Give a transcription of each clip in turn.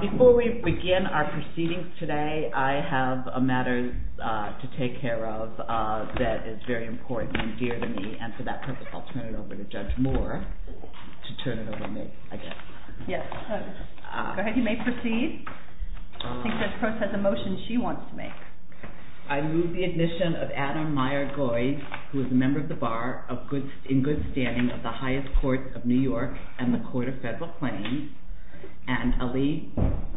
Before we begin our proceedings today, I have a matter to take care of that is very important and dear to me. And for that purpose, I'll turn it over to Judge Moore to turn it over to me, I guess. Go ahead. You may proceed. I think Judge Proce has a motion she wants to make. I move the admission of Adam Meyer-Goy, who is a member of the Bar in good standing of the highest courts of New York and the Court of Federal Claims, and Ali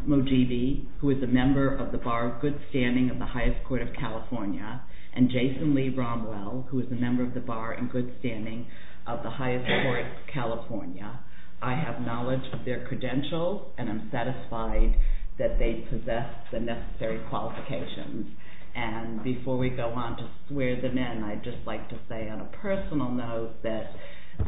Mogidi, who is a member of the Bar in good standing of the highest court of California, and Jason Lee Romwell, who is a member of the Bar in good standing of the highest court of California. I have knowledge of their credentials, and I'm satisfied that they possess the necessary qualifications. And before we go on to swear them in, I'd just like to say on a personal note that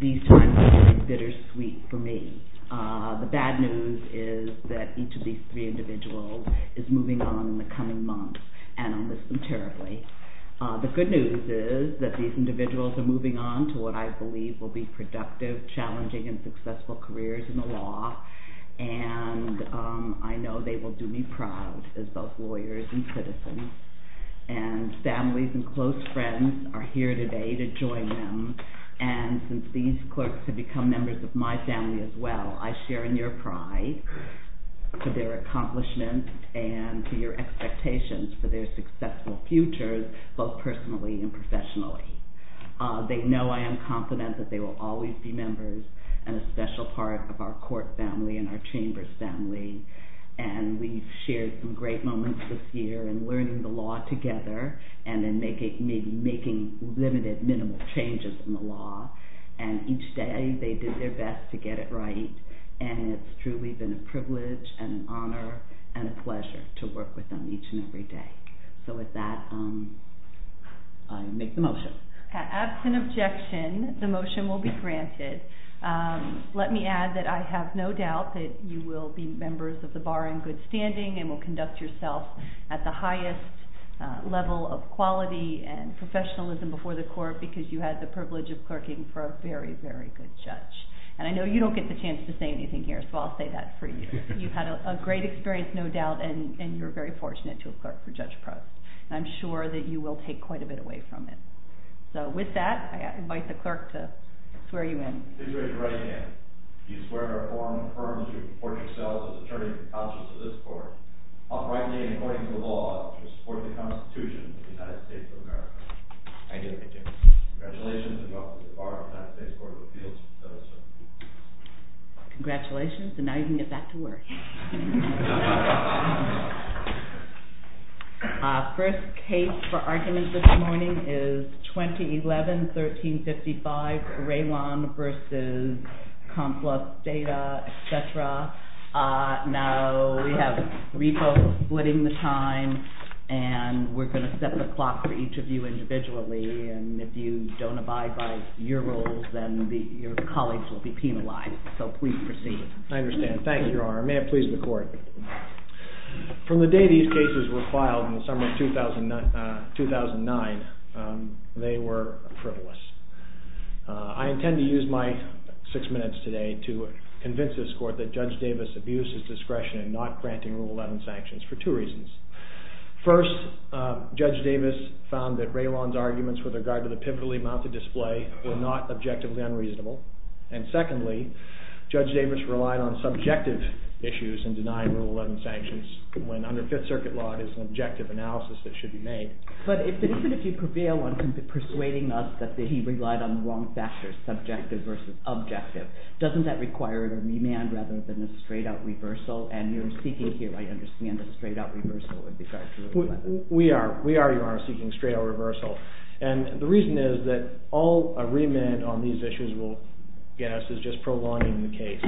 these times have been bittersweet for me. The bad news is that each of these three individuals is moving on in the coming months, and I'll miss them terribly. The good news is that these individuals are moving on to what I believe will be productive, challenging, and successful careers in the law, and I know they will do me proud as both lawyers and citizens. And families and close friends are here today to join them, and since these clerks have become members of my family as well, I share in your pride for their accomplishments and to your expectations for their successful futures, both personally and professionally. They know I am confident that they will always be members and a special part of our court family and our chamber's family, and we've shared some great moments this year in learning the law together and in making limited, minimal changes in the law, and each day they did their best to get it right, and it's truly been a privilege and an honor and a pleasure to work with them each and every day. So with that, I make the motion. Absent objection, the motion will be granted. Let me add that I have no doubt that you will be members of the bar in good standing and will conduct yourself at the highest level of quality and professionalism before the court because you had the privilege of clerking for a very, very good judge. And I know you don't get the chance to say anything here, so I'll say that for you. You've had a great experience, no doubt, and you're very fortunate to have clerked for Judge Press, and I'm sure that you will take quite a bit away from it. So with that, I invite the clerk to swear you in. I swear you right in. I do, I do. Congratulations, and welcome to the bar of the United States Court of Appeals. Congratulations, and now you can get back to work. First case for argument this morning is 2011-1355, Raylon v. Complus Theta, etc. Now we have three folks splitting the time, and we're going to set the clock for each of you individually, and if you don't abide by your rules, then your colleagues will be penalized. So please proceed. I understand. Thank you, Your Honor. May it please the court. From the day these cases were filed in the summer of 2009, they were frivolous. I intend to use my six minutes today to convince this court that Judge Davis abused his discretion in not granting Rule 11 sanctions for two reasons. First, Judge Davis found that Raylon's arguments with regard to the pivotally mounted display were not objectively unreasonable. And secondly, Judge Davis relied on subjective issues in denying Rule 11 sanctions when under Fifth Circuit law it is an objective analysis that should be made. But even if you prevail on persuading us that he relied on the wrong factors, subjective versus objective, doesn't that require a remand rather than a straight-out reversal? And you're speaking here. I understand that a straight-out reversal would be fair to Rule 11. We are, Your Honor, seeking a straight-out reversal. And the reason is that all a remand on these issues will get us is just prolonging the case.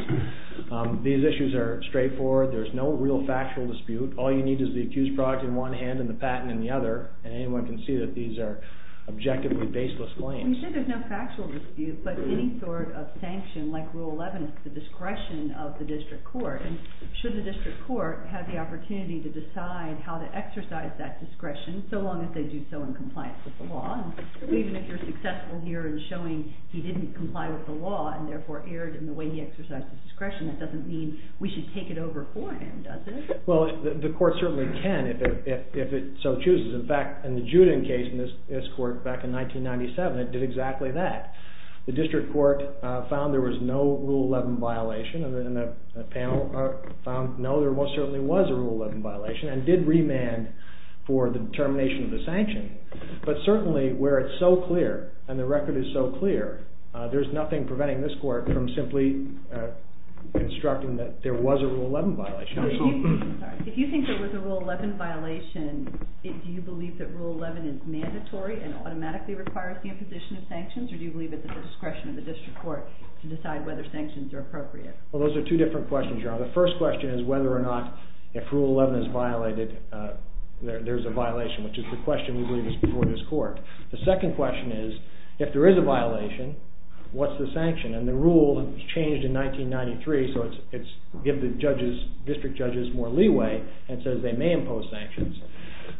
These issues are straightforward. There's no real factual dispute. All you need is the accused product in one hand and the patent in the other, and anyone can see that these are objectively baseless claims. You said there's no factual dispute, but any sort of sanction, like Rule 11, is the discretion of the district court. And should the district court have the opportunity to decide how to exercise that discretion so long as they do so in compliance with the law? Even if you're successful here in showing he didn't comply with the law and therefore erred in the way he exercised the discretion, that doesn't mean we should take it over for him, does it? Well, the court certainly can if it so chooses. In fact, in the Juden case in this court back in 1997, it did exactly that. The district court found there was no Rule 11 violation, and the panel found no, there most certainly was a Rule 11 violation, and did remand for the determination of the sanction. But certainly where it's so clear and the record is so clear, there's nothing preventing this court from simply instructing that there was a Rule 11 violation. If you think there was a Rule 11 violation, do you believe that Rule 11 is mandatory and automatically requires the imposition of sanctions, or do you believe it's at the discretion of the district court to decide whether sanctions are appropriate? Well, those are two different questions, Your Honor. The first question is whether or not if Rule 11 is violated, there's a violation, which is the question we believe is before this court. The second question is if there is a violation, what's the sanction? And the rule changed in 1993, so it gives the district judges more leeway and says they may impose sanctions.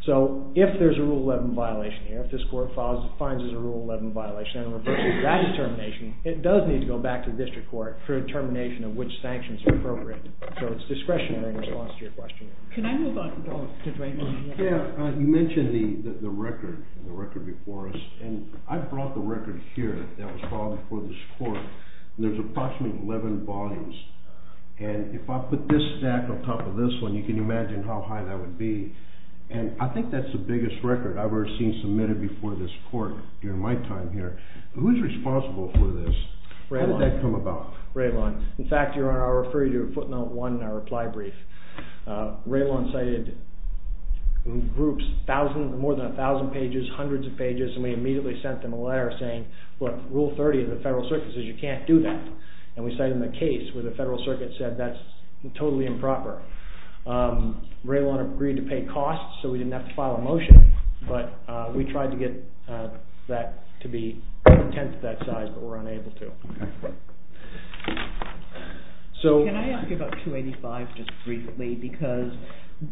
So if there's a Rule 11 violation here, if this court finds there's a Rule 11 violation, and reverses that determination, it does need to go back to the district court for a determination of which sanctions are appropriate. So it's discretionary in response to your question. Can I move on to Draymond? Yeah, you mentioned the record before us, and I brought the record here that was filed before this court. There's approximately 11 volumes, and if I put this stack on top of this one, you can imagine how high that would be. And I think that's the biggest record I've ever seen submitted before this court during my time here. Who's responsible for this? How did that come about? Raylon. In fact, Your Honor, I'll refer you to footnote 1 in our reply brief. Raylon cited in groups more than 1,000 pages, hundreds of pages, and we immediately sent them a letter saying, look, Rule 30 of the Federal Circuit says you can't do that. And we cited them a case where the Federal Circuit said that's totally improper. Raylon agreed to pay costs so we didn't have to file a motion, but we tried to get that to be content to that size, but we're unable to. Can I ask you about 285 just briefly? Because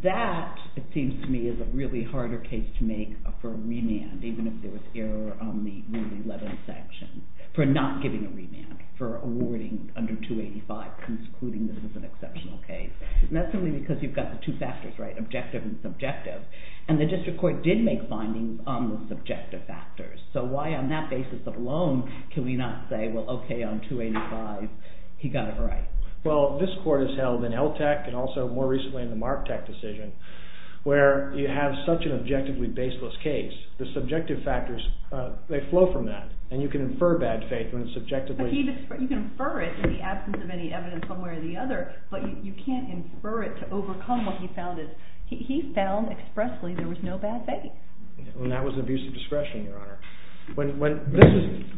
that, it seems to me, is a really harder case to make for a remand, even if there was error on the Rule 11 section, for not giving a remand, for awarding under 285, concluding this is an exceptional case. And that's simply because you've got the two factors, right, objective and subjective. And the district court did make findings on the subjective factors. So why on that basis alone can we not say, well, okay, on 285 he got it right? Well, this court has held in LTCH and also more recently in the MARTEC decision where you have such an objectively baseless case, the subjective factors, they flow from that. And you can infer bad faith when it's subjectively. You can infer it in the absence of any evidence one way or the other, but you can't infer it to overcome what he found. He found expressly there was no bad faith. And that was an abuse of discretion, Your Honor.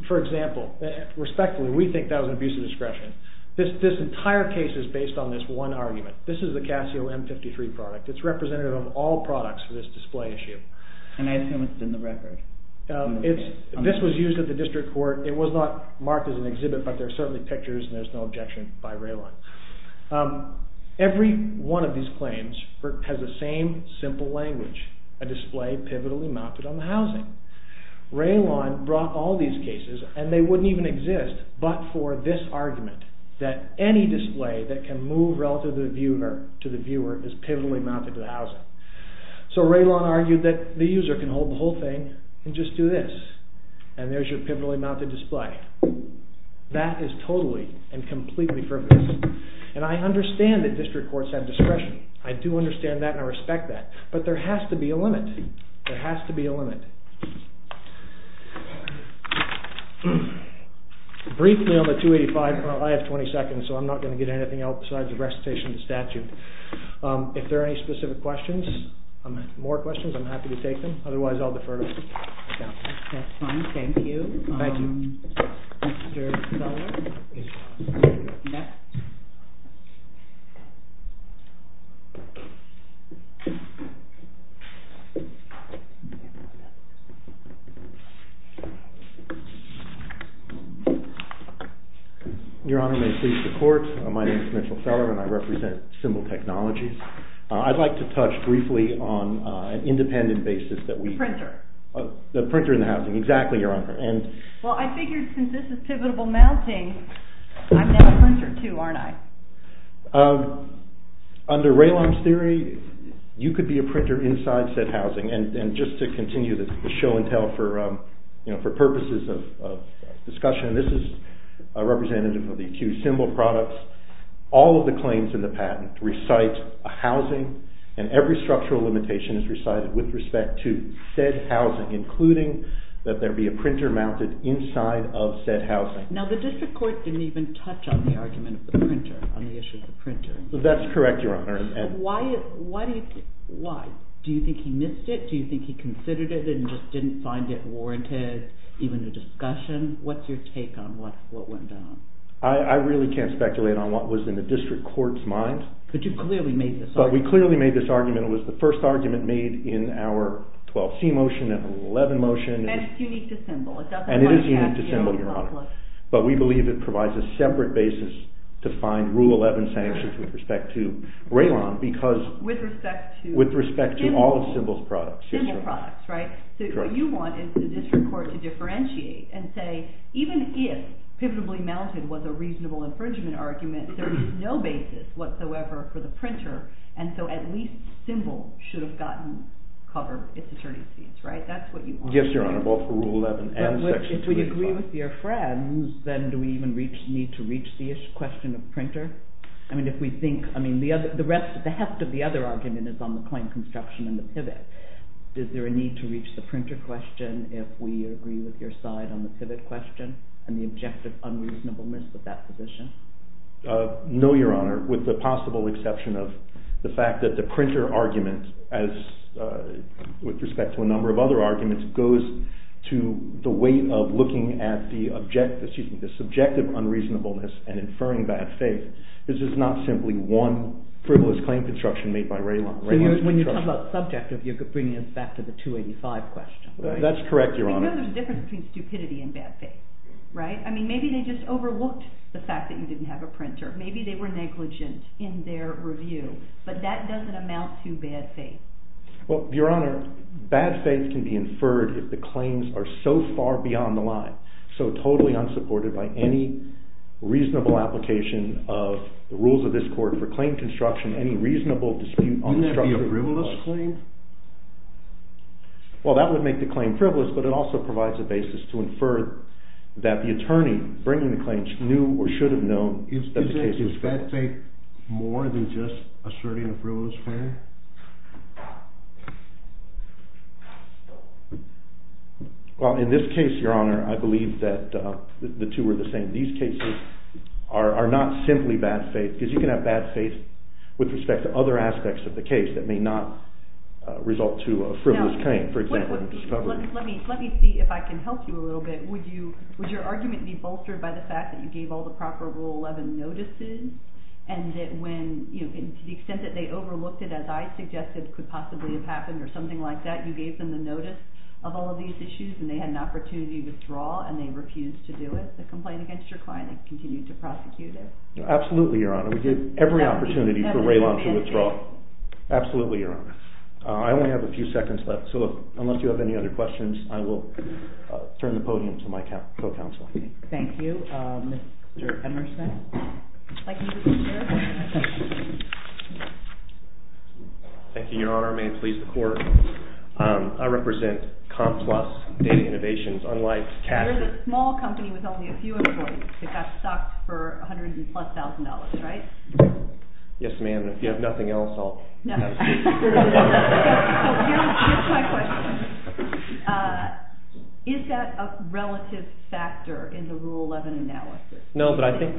For example, respectfully, we think that was an abuse of discretion. This entire case is based on this one argument. This is the Casio M53 product. It's representative of all products for this display issue. And I assume it's in the record. This was used at the district court. It was not marked as an exhibit, but there are certainly pictures, and there's no objection by Raylon. Every one of these claims has the same simple language, a display pivotally mounted on the housing. Raylon brought all these cases, and they wouldn't even exist, but for this argument that any display that can move relative to the viewer is pivotally mounted to the housing. So Raylon argued that the user can hold the whole thing and just do this, and there's your pivotally mounted display. That is totally and completely perfect. And I understand that district courts have discretion. I do understand that, and I respect that. But there has to be a limit. There has to be a limit. Briefly on the 285, I have 20 seconds, so I'm not going to get anything else besides a recitation of the statute. If there are any specific questions, more questions, I'm happy to take them. Otherwise, I'll defer to counsel. That's fine. Thank you. Thank you. Mr. Seller. Your Honor, may it please the court, my name is Mitchell Seller, and I represent Symbol Technologies. I'd like to touch briefly on an independent basis that we've... Printer. The printer in the housing. Exactly, Your Honor. Well, I figured since this is pivotable mounting, I'm now a printer too, aren't I? Under Raylon's theory, you could be a printer inside said housing, and just to continue the show and tell for purposes of discussion, this is a representative of the accused Symbol Products. All of the claims in the patent recite a housing, and every structural limitation is recited with respect to said housing, including that there be a printer mounted inside of said housing. Now, the district court didn't even touch on the argument of the printer, on the issue of the printer. That's correct, Your Honor. Why? Do you think he missed it? Do you think he considered it and just didn't find it warranted, even a discussion? What's your take on what went down? I really can't speculate on what was in the district court's mind. But you clearly made this argument. But we clearly made this argument. It was the first argument made in our 12C motion and Rule 11 motion. And it's unique to Symbol. And it is unique to Symbol, Your Honor. But we believe it provides a separate basis to find Rule 11 sanctions with respect to Raylon because... With respect to... With respect to all of Symbol's products. Symbol Products, right? So what you want is for the district court to differentiate and say even if pivotably mounted was a reasonable infringement argument, there is no basis whatsoever for the printer. And so at least Symbol should have gotten cover. It's attorney's fees, right? That's what you want. Yes, Your Honor, both for Rule 11 and Section 235. But if we agree with your friends, then do we even need to reach the issue, question of printer? I mean, if we think... I mean, the rest, the heft of the other argument is on the claim construction and the pivot. Is there a need to reach the printer question if we agree with your side on the pivot question and the objective unreasonableness of that position? No, Your Honor, with the possible exception of the fact that the printer argument, with respect to a number of other arguments, goes to the weight of looking at the subjective unreasonableness and inferring bad faith. This is not simply one frivolous claim construction made by Raylon. So when you talk about subject, you're bringing us back to the 285 question, right? That's correct, Your Honor. We know there's a difference between stupidity and bad faith, right? I mean, maybe they just overlooked the fact that you didn't have a printer. Maybe they were negligent in their review. But that doesn't amount to bad faith. Well, Your Honor, bad faith can be inferred if the claims are so far beyond the line, so totally unsupported by any reasonable application of the rules of this court for claim construction, any reasonable dispute... Wouldn't that be a frivolous claim? but it also provides a basis to infer that the attorney bringing the claims knew or should have known that the case was false. Is bad faith more than just asserting a frivolous claim? Well, in this case, Your Honor, I believe that the two are the same. These cases are not simply bad faith, because you can have bad faith with respect to other aspects of the case that may not result to a frivolous claim, for example, a discovery. Let me see if I can help you a little bit. Would your argument be bolstered by the fact that you gave all the proper Rule 11 notices, and that when, to the extent that they overlooked it, as I suggested could possibly have happened or something like that, you gave them the notice of all of these issues and they had an opportunity to withdraw and they refused to do it, the complaint against your client and continued to prosecute it? Absolutely, Your Honor. We gave every opportunity for Raelon to withdraw. Absolutely, Your Honor. I only have a few seconds left, so unless you have any other questions, I will turn the podium to my co-counsel. Thank you. Mr. Emerson? Thank you, Your Honor. May it please the Court. I represent Complus Data Innovations, unlike Cassidy. You're a small company with only a few employees. It got stocked for hundreds and plus thousand dollars, right? Yes, ma'am. If you have nothing else, I'll have a seat. Here's my question. Is that a relative factor in the Rule 11 analysis? No, but I think...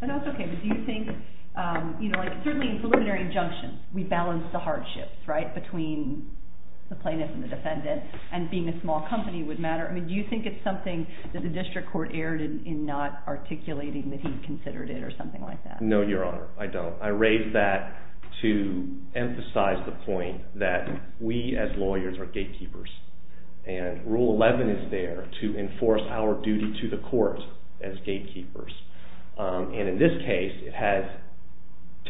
No, that's okay. But do you think, certainly in preliminary injunction, we balance the hardships, right? Between the plaintiff and the defendant and being a small company would matter. Do you think it's something that the District Court erred in not articulating that he considered it or something like that? No, Your Honor, I don't. I raise that to emphasize the point that we as lawyers are gatekeepers and Rule 11 is there to enforce our duty to the Court as gatekeepers. And in this case, it has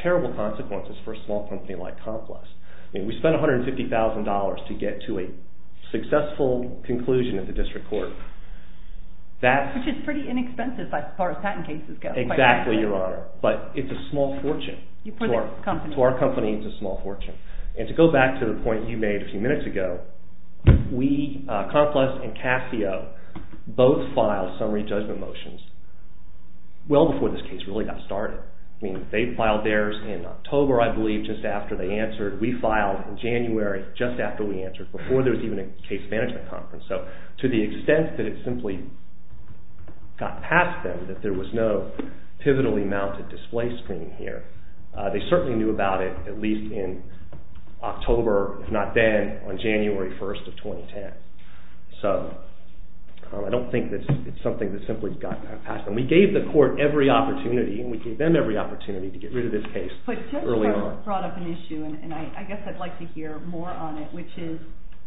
terrible consequences for a small company like Complus. We spent $150,000 to get to a successful conclusion at the District Court. Which is pretty inexpensive as far as patent cases go. Exactly, Your Honor. But it's a small fortune. To our company, it's a small fortune. And to go back to the point you made a few minutes ago, we, Complus and Casio, both filed summary judgment motions well before this case really got started. I mean, they filed theirs in October, I believe, just after they answered. We filed in January, just after we answered, before there was even a case management conference. So to the extent that it simply got past them, that there was no pivotally mounted display screen here, they certainly knew about it at least in October, if not then, on January 1st of 2010. So I don't think it's something that simply got past them. We gave the Court every opportunity, and we gave them every opportunity to get rid of this case early on. I guess I'd like to hear more on it, which is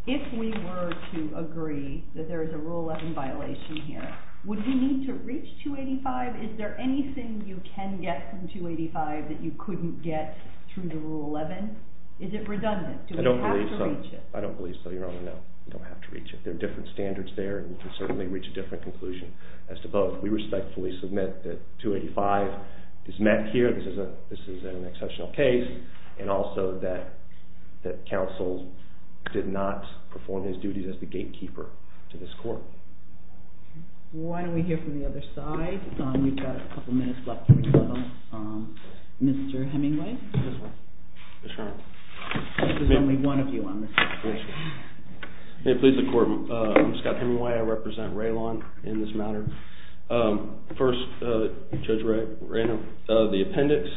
if we were to agree that there is a Rule 11 violation here, would we need to reach 285? Is there anything you can get from 285 that you couldn't get through the Rule 11? Is it redundant? Do we have to reach it? I don't believe so, Your Honor, no. We don't have to reach it. There are different standards there, and we can certainly reach a different conclusion as to both. We respectfully submit that 285 is met here. This is an exceptional case, and also that counsel did not perform his duties as the gatekeeper to this Court. Why don't we hear from the other side? We've got a couple minutes left to rebuttal. Mr. Hemingway? Yes, Your Honor. This is only one of you on this case. May it please the Court, I'm Scott Hemingway. I represent Raylon in this matter. First, Judge Ray, the appendix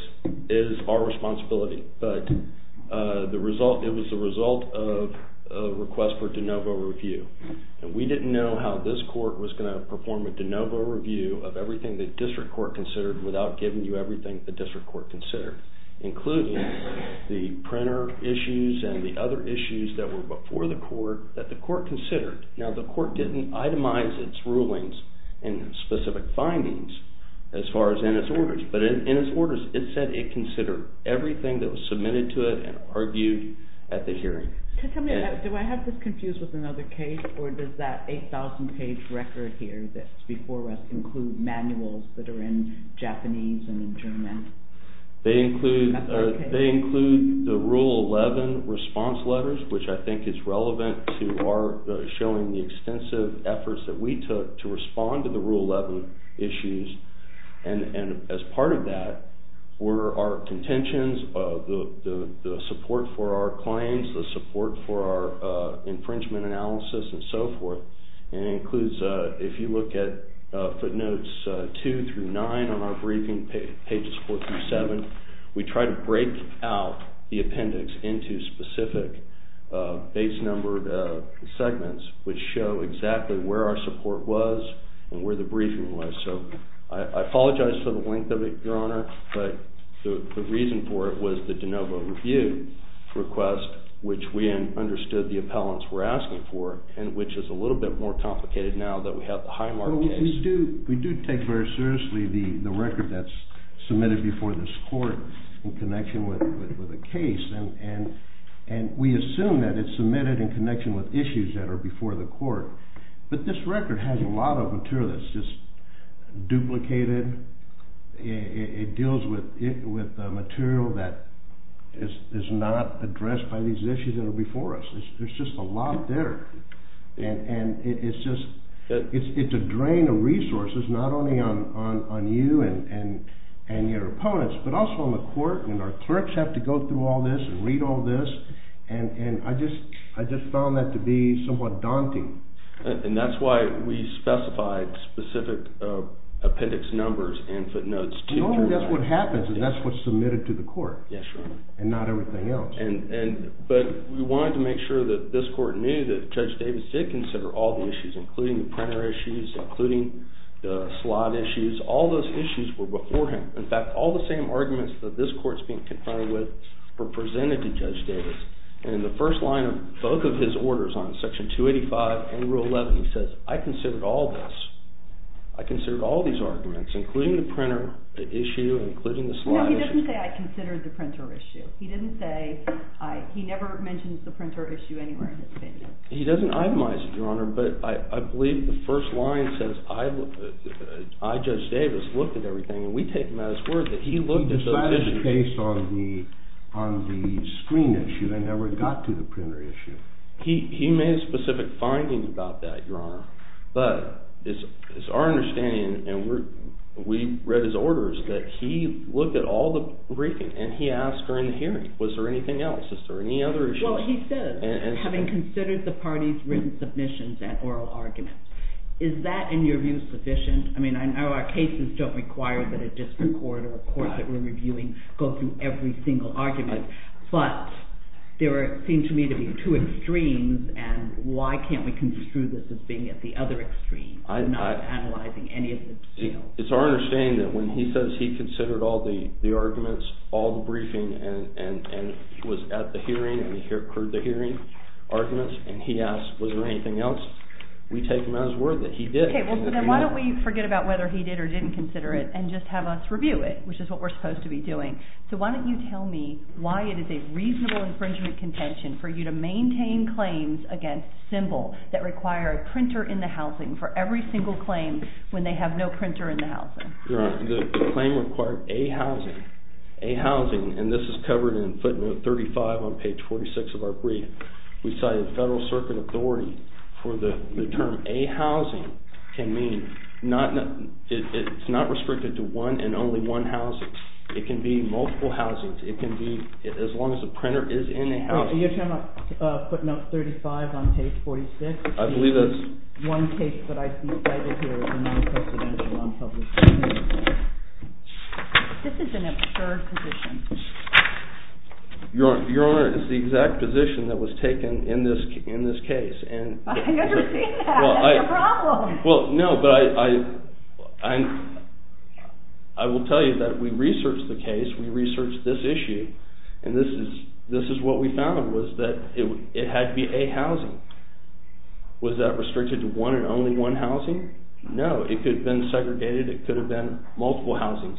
is our responsibility, but it was the result of a request for de novo review. We didn't know how this Court was going to perform a de novo review of everything the District Court considered without giving you everything the District Court considered, including the printer issues and the other issues that were before the Court that the Court considered. Now, the Court didn't itemize its rulings and specific findings as far as in its orders, but in its orders it said it considered everything that was submitted to it and argued at the hearing. Do I have this confused with another case, or does that 8,000-page record here that's before us include manuals that are in Japanese and in German? They include the Rule 11 response letters, which I think is relevant to our showing the extensive efforts that we took to respond to the Rule 11 issues. And as part of that were our contentions, the support for our claims, the support for our infringement analysis, and so forth. And it includes, if you look at footnotes 2 through 9 on our briefing pages 4 through 7, we try to break out the appendix into specific base-numbered segments which show exactly where our support was and where the briefing was. So I apologize for the length of it, Your Honor, but the reason for it was the de novo review request, which we understood the appellants were asking for, and which is a little bit more complicated now that we have the Highmark case. We do take very seriously the record that's submitted before this court in connection with the case, and we assume that it's submitted in connection with issues that are before the court. But this record has a lot of material that's just duplicated. It deals with material that is not addressed by these issues that are before us. There's just a lot there. And it's just... It's a drain of resources, not only on you and your opponents, but also on the court, and our clerks have to go through all this and read all this, and I just found that to be somewhat daunting. And that's why we specified specific appendix numbers and footnotes. Normally that's what happens, and that's what's submitted to the court, and not everything else. But we wanted to make sure that this court knew that Judge Davis did consider all the issues, including the printer issues, including the slot issues. All those issues were beforehand. In fact, all the same arguments that this court's being confronted with were presented to Judge Davis, and in the first line of both of his orders, on Section 285 and Rule 11, he says, I considered all this. I considered all these arguments, including the printer issue, including the slot issue. No, he doesn't say, I considered the printer issue. He didn't say... He never mentions the printer issue anywhere in his opinion. He doesn't itemize it, Your Honor, but I believe the first line says, I, Judge Davis, looked at everything, and we take him at his word that he looked at those issues. He decided based on the screen issue, and never got to the printer issue. He made specific findings about that, Your Honor, but it's our understanding, and we read his orders, that he looked at all the briefings, and he asked during the hearing, was there anything else? Is there any other issues? Well, he says, having considered the party's written submissions and oral arguments, is that, in your view, sufficient? I mean, I know our cases don't require that a district court or a court that we're reviewing go through every single argument, but there seem to me to be two extremes, and why can't we construe this as being at the other extreme, and not analyzing any of the... It's our understanding that when he says he considered all the arguments, all the briefing, and was at the hearing, and he heard the hearing arguments, and he asked, was there anything else, we take him at his word that he did. Okay, well, then why don't we forget about and just have us review it, which is what we're supposed to be doing. So why don't you tell me why it is a reasonable infringement contention for you to maintain claims against Simbel that require a printer in the housing for every single claim when they have no printer in the housing. Your Honor, the claim required a housing, a housing, and this is covered in footnote 35 on page 46 of our brief. We cited federal circuit authority for the term, a housing, can mean, it's not restricted to one and only one housing. It can be multiple housings. It can be, as long as the printer is in the housing. You're talking about footnote 35 on page 46? I believe that's... One case that I cited here is a non-presidential non-public case. This is an absurd position. Your Honor, it's the exact position that was taken in this case, and... I understand that. That's your problem. Well, no, but I... I will tell you that we researched the case, we researched this issue, and this is what we found, was that it had to be a housing. Was that restricted to one and only one housing? No, it could have been segregated, it could have been multiple housings.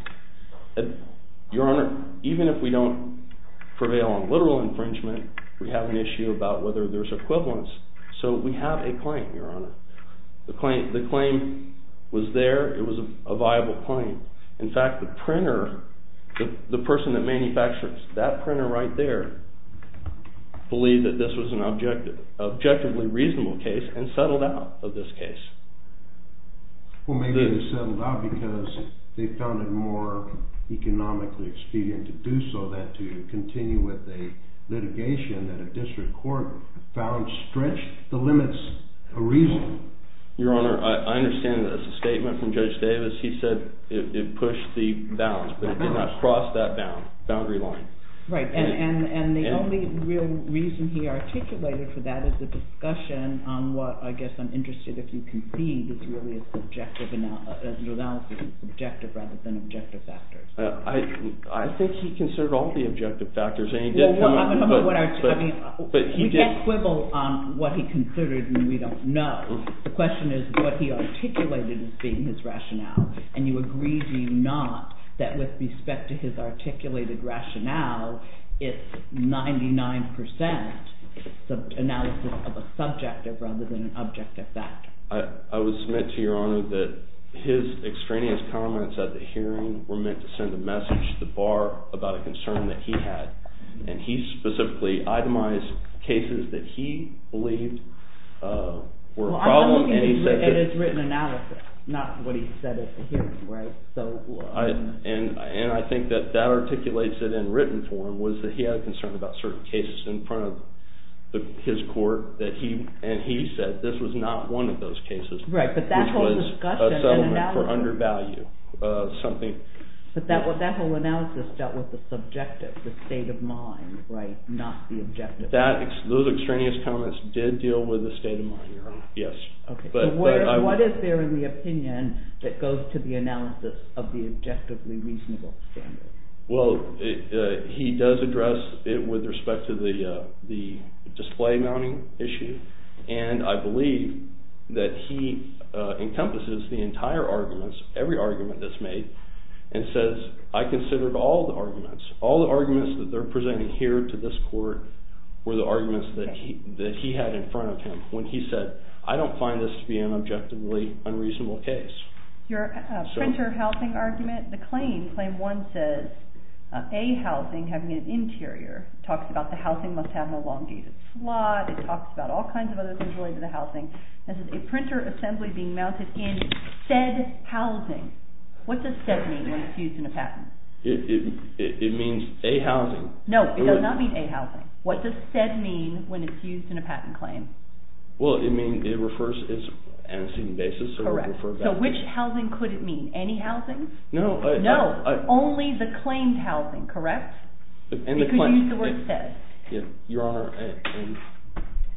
Your Honor, even if we don't prevail on literal infringement, we have an issue about whether there's equivalence. So we have a claim, Your Honor. The claim was there, it was a viable claim. In fact, the printer, the person that manufactures that printer right there, believed that this was an objectively reasonable case and settled out of this case. Well, maybe they settled out because they found it more economically expedient to do so, than to continue with a litigation that a district court found stretched the limits a reason. Your Honor, I understand that as a statement from Judge Davis, he said it pushed the bounds, but it did not cross that boundary line. Right. And the only real reason he articulated for that is the discussion on what, I guess I'm interested if you concede, is really an analysis of the objective rather than objective factors. I think he considered all the objective factors. You can't quibble on what he considered when we don't know. The question is what he articulated as being his rationale. And you agree, do you not, that with respect to his articulated rationale, it's 99% the analysis of a subjective rather than an objective factor. I would submit to Your Honor that his extraneous comments at the hearing were meant to send a message to the Bar about a concern that he had. And he specifically itemized cases that he believed were a problem. Well, I'm looking at his written analysis, not what he said at the hearing, right? And I think that that articulates it in written form, was that he had a concern about certain cases in front of his court, and he said this was not one of those cases, which was a settlement for undervalue. But that whole analysis dealt with the subjective, the state of mind, right, not the objective. Those extraneous comments did deal with the state of mind, Your Honor, yes. Okay, but what is there in the opinion that goes to the analysis of the objectively reasonable standard? Well, he does address it with respect to the display mounting issue, and I believe that he encompasses the entire arguments, every argument that's made, and says, I considered all the arguments, all the arguments that they're presenting here to this court were the arguments that he had in front of him, when he said, I don't find this to be an objectively unreasonable case. Your printer housing argument, the claim, claim one says, A housing, having an interior, talks about the housing must have an elongated slot, it talks about all kinds of other things related to the housing. It says, a printer assembly being mounted in said housing. What does said mean when it's used in a patent? It means A housing. No, it does not mean A housing. What does said mean when it's used in a patent claim? Well, it means, it refers, it's an antecedent basis. Correct. So which housing could it mean? Any housing? No. No, only the claimed housing, correct? It could use the word said. Your Honor,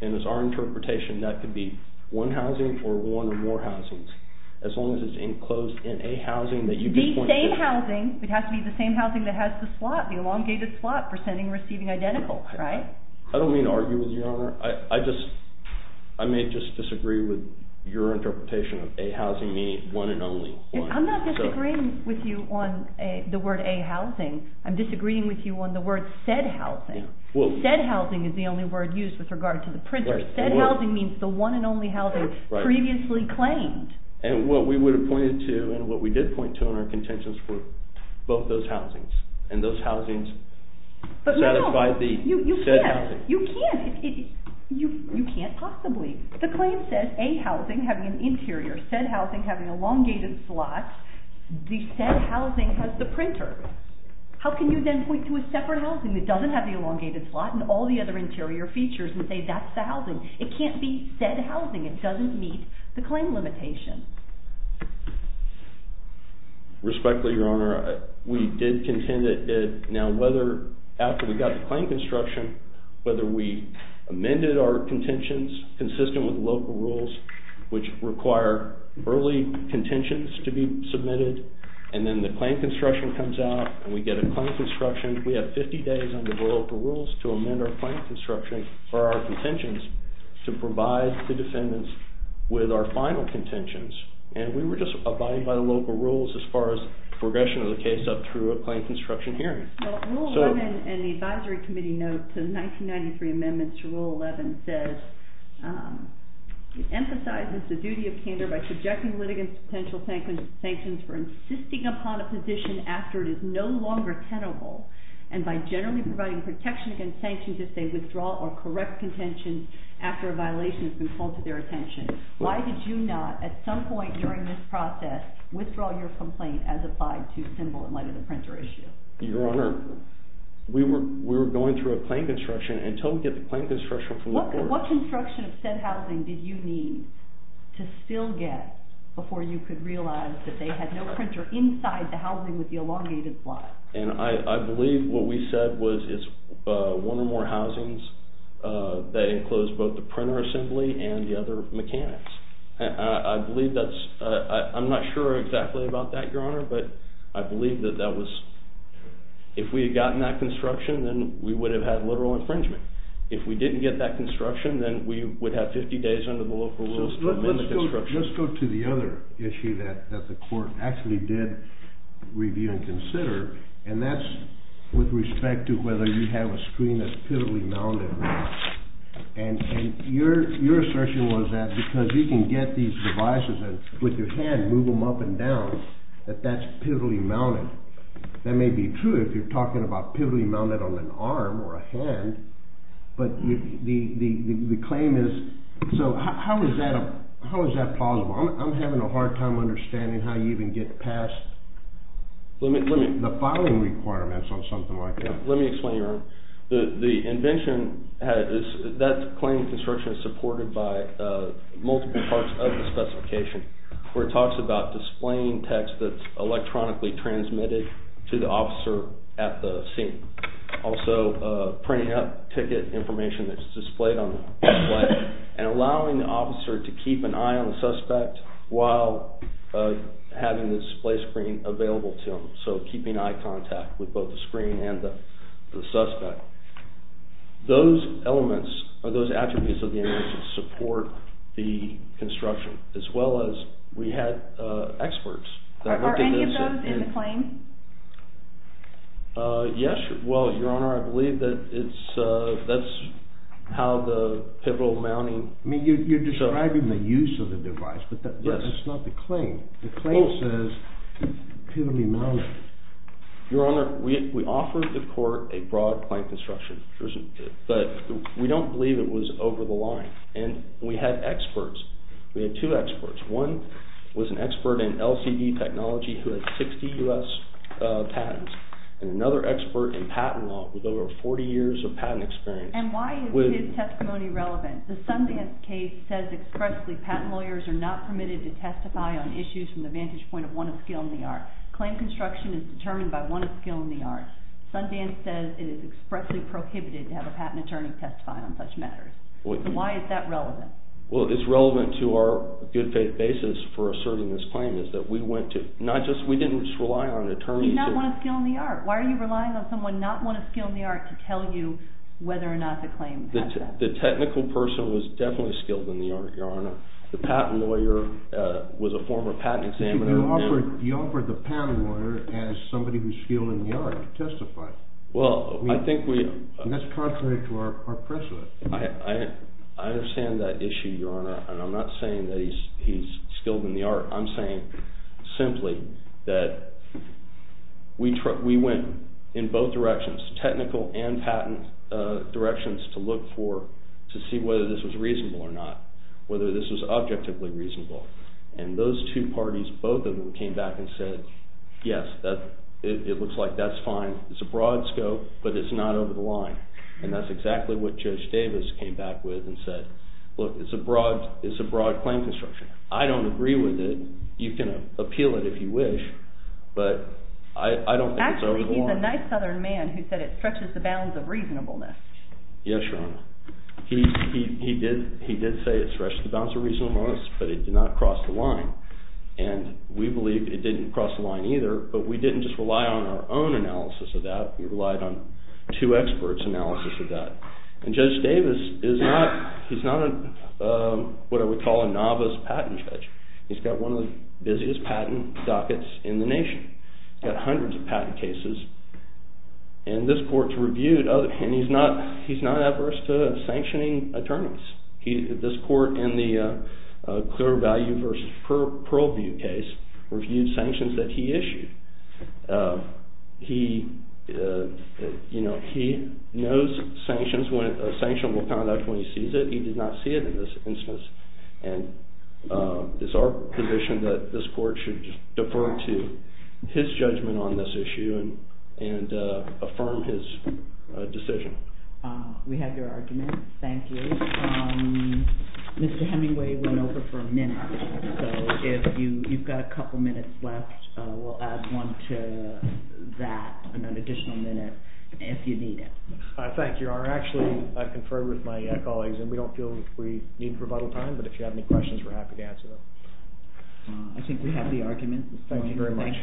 and it's our interpretation that could be one housing or one or more housings, as long as it's enclosed in A housing. The same housing, it has to be the same housing that has the slot, the elongated slot, presenting and receiving identical, right? I don't mean to argue with you, Your Honor. I just, I may just disagree with your interpretation of A housing meaning one and only. I'm not disagreeing with you on the word A housing. I'm disagreeing with you on the word said housing. Said housing is the only word used with regard to the printer. Said housing means the one and only housing previously claimed. And what we would have pointed to, and what we did point to in our contentions were both those housings. And those housings satisfy the said housing. No, you can't. You can't. You can't possibly. The claim says A housing having an interior, said housing having elongated slots. The said housing has the printer. How can you then point to a separate housing that doesn't have the elongated slot and all the other interior features and say that's the housing? It can't be said housing. It doesn't meet the claim limitation. Respectfully, Your Honor, we did contend that now whether after we got the claim construction, whether we amended our contentions consistent with local rules, which require early contentions to be submitted, and then the claim construction comes out and we get a claim construction, we have 50 days under local rules to amend our claim construction or our contentions to provide the defendants with our final contentions. And we were just abiding by the local rules as far as progression of the case up through a claim construction hearing. Rule 11 in the advisory committee note to the 1993 amendments to Rule 11 says, it emphasizes the duty of candor by subjecting litigants to potential sanctions for insisting upon a position after it is no longer tenable and by generally providing protection against sanctions if they withdraw or correct contentions after a violation has been called to their attention. Why did you not, at some point during this process, withdraw your complaint as applied to symbol in light of the printer issue? Your Honor, we were going through a claim construction until we get the claim construction from the court. What construction of said housing did you need to still get before you could realize that they had no printer inside the housing with the elongated slot? And I believe what we said was one or more housings that enclosed both the printer assembly and the other mechanics. I'm not sure exactly about that, Your Honor, but I believe that if we had gotten that construction then we would have had literal infringement. If we didn't get that construction then we would have 50 days under the local rules to amend the construction. Let's go to the other issue that the court actually did review and consider and that's with respect to whether you have a screen that's pivotally mounted. And your assertion was that because you can get these devices with your hand, move them up and down, that that's pivotally mounted. That may be true if you're talking about pivotally mounted on an arm or a hand, but the claim is... So how is that plausible? I'm having a hard time understanding how you even get past the filing requirements on something like that. Let me explain, Your Honor. The invention, that claim construction is supported by multiple parts of the specification where it talks about displaying text that's electronically transmitted to the officer at the scene. Also printing out ticket information that's displayed on the display and allowing the officer to keep an eye on the suspect while having the display screen available to him, so keeping eye contact with both the screen and the suspect. Those elements, or those attributes of the invention support the construction, as well as we had experts... Are any of those in the claim? Yes, well, Your Honor, I believe that's how the pivotal mounting... I mean, you're describing the use of the device, but that's not the claim. The claim says it's pivotally mounted. Your Honor, we offered the court a broad claim construction, but we don't believe it was over the line, and we had experts. We had two experts. One was an expert in LCD technology who had 60 U.S. patents, and another expert in patent law with over 40 years of patent experience. And why is his testimony relevant? The Sundance case says expressly that patent lawyers are not permitted to testify on issues from the vantage point of one of skill in the art. Claim construction is determined by one of skill in the art. Sundance says it is expressly prohibited to have a patent attorney testify on such matters. So why is that relevant? Well, it's relevant to our good faith basis for asserting this claim is that we went to... We didn't just rely on attorneys... He's not one of skill in the art. Why are you relying on someone not one of skill in the art The technical person was definitely skilled in the art, Your Honor. The patent lawyer was a former patent examiner... You offered the patent lawyer as somebody who's skilled in the art to testify. Well, I think we... And that's contrary to our precedent. I understand that issue, Your Honor, and I'm not saying that he's skilled in the art. I'm saying simply that we went in both directions, technical and patent directions, to look for... to see whether this was reasonable or not, whether this was objectively reasonable. And those two parties, both of them, came back and said, yes, it looks like that's fine. It's a broad scope, but it's not over the line. And that's exactly what Judge Davis came back with and said, look, it's a broad claim construction. I don't agree with it. You can appeal it if you wish, but I don't think it's over the line. Actually, he's a nice Southern man who said it stretches the bounds of reasonableness. Yes, Your Honor. He did say it stretches the bounds of reasonableness, but it did not cross the line. And we believe it didn't cross the line either, but we didn't just rely on our own analysis of that. We relied on two experts' analysis of that. And Judge Davis is not... he's not what I would call a novice patent judge. He's got one of the busiest patent dockets in the nation. He's got hundreds of patent cases, and this court's reviewed... and he's not adverse to sanctioning attorneys. This court in the Clear Value v. Pearlview case reviewed sanctions that he issued. He, you know, he knows sanctions, when a sanctionable conduct, when he sees it. He did not see it in this instance. And it's our position that this court should defer to his judgment on this issue and affirm his decision. We have your argument. Thank you. Mr. Hemingway went over for a minute, so if you've got a couple minutes left, we'll add one to that, an additional minute, if you need it. Thank you, Your Honor. Actually, I confer with my colleagues, and we don't feel we need rebuttal time, but if you have any questions, we're happy to answer them. I think we have the argument. Thank you very much.